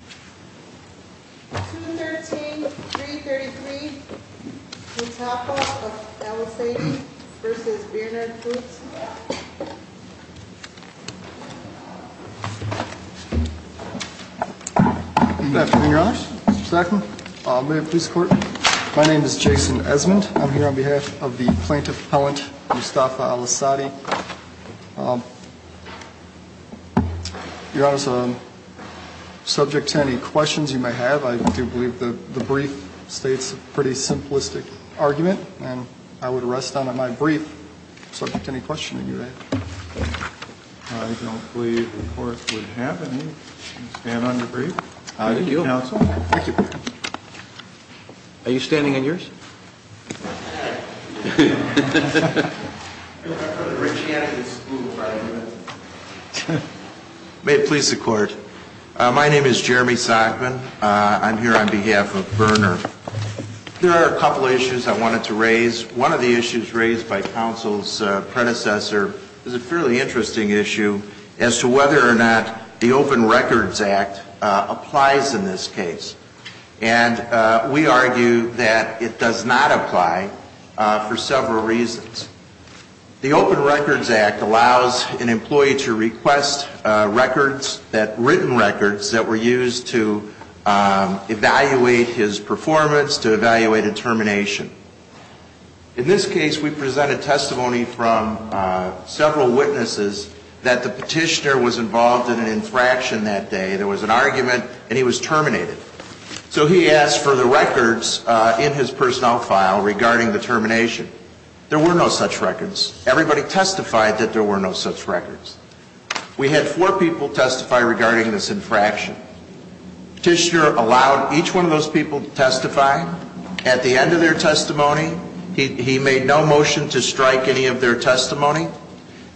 213-333, Mustafa of Alassady v. Bernard Foods Good afternoon, Your Honor. Mr. Sackman, Mayor of the Police Court. My name is Jason Esmond. I'm here on behalf of the plaintiff appellant, Mustafa Alassady. Your Honor, subject to any questions you may have, I do believe the brief states a pretty simplistic argument. And I would rest on my brief, subject to any questions you may have. I don't believe the court would have any. You can stand on your brief. Thank you, Counsel. Thank you. Are you standing on yours? May it please the Court. My name is Jeremy Sackman. I'm here on behalf of Berner. There are a couple of issues I wanted to raise. One of the issues raised by Counsel's predecessor is a fairly interesting issue as to whether or not the Open Records Act applies in this case. And we argue that it does not apply for several reasons. The Open Records Act allows an employee to request records, written records, that were used to evaluate his performance, to evaluate a termination. In this case, we presented testimony from several witnesses that the petitioner was involved in an infraction that day. There was an argument, and he was terminated. So he asked for the records in his personnel file regarding the termination. There were no such records. Everybody testified that there were no such records. We had four people testify regarding this infraction. Petitioner allowed each one of those people to testify. At the end of their testimony, he made no motion to strike any of their testimony.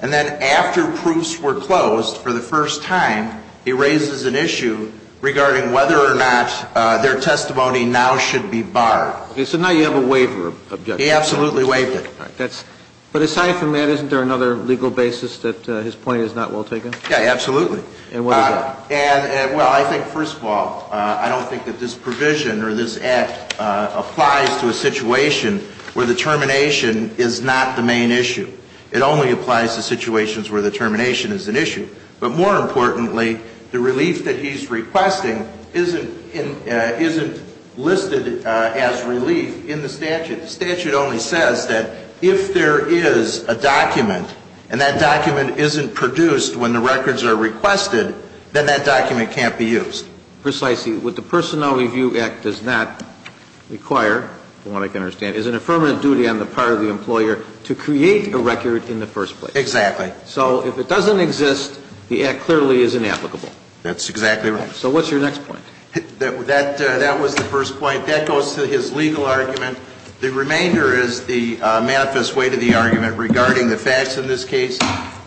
And then after proofs were closed for the first time, he raises an issue regarding whether or not their testimony now should be barred. So now you have a waiver objection. He absolutely waived it. But aside from that, isn't there another legal basis that his point is not well taken? Yeah, absolutely. And what is that? Well, I think, first of all, I don't think that this provision or this Act applies to a situation where the termination is not the main issue. It only applies to situations where the termination is an issue. But more importantly, the relief that he's requesting isn't listed as relief in the statute. The statute only says that if there is a document and that document isn't produced when the records are requested, then that document can't be used. Precisely. What the Personnel Review Act does not require, from what I can understand, is an affirmative duty on the part of the employer to create a record in the first place. Exactly. So if it doesn't exist, the Act clearly is inapplicable. That's exactly right. So what's your next point? That was the first point. That goes to his legal argument. The remainder is the manifest way to the argument regarding the facts in this case.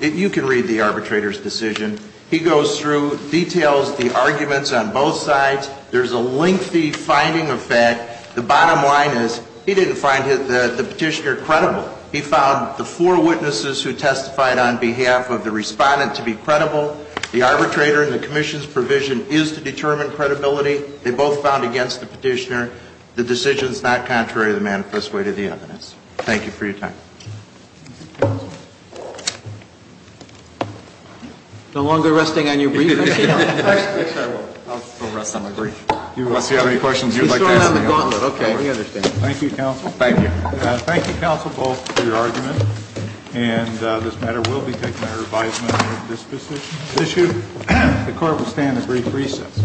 You can read the arbitrator's decision. He goes through, details the arguments on both sides. There's a lengthy finding of fact. The bottom line is he didn't find the petitioner credible. He found the four witnesses who testified on behalf of the respondent to be credible. The arbitrator and the commission's provision is to determine credibility. They both found against the petitioner. The decision is not contrary to the manifest way to the evidence. Thank you for your time. Thank you, counsel. No longer resting on your brief? Yes, I will. I'll rest on my brief. Unless you have any questions you'd like to ask me. Okay. Thank you, counsel. Thank you. Thank you, counsel, both, for your argument. And this matter will be taken under advisement on this issue. The court will stand at brief recess.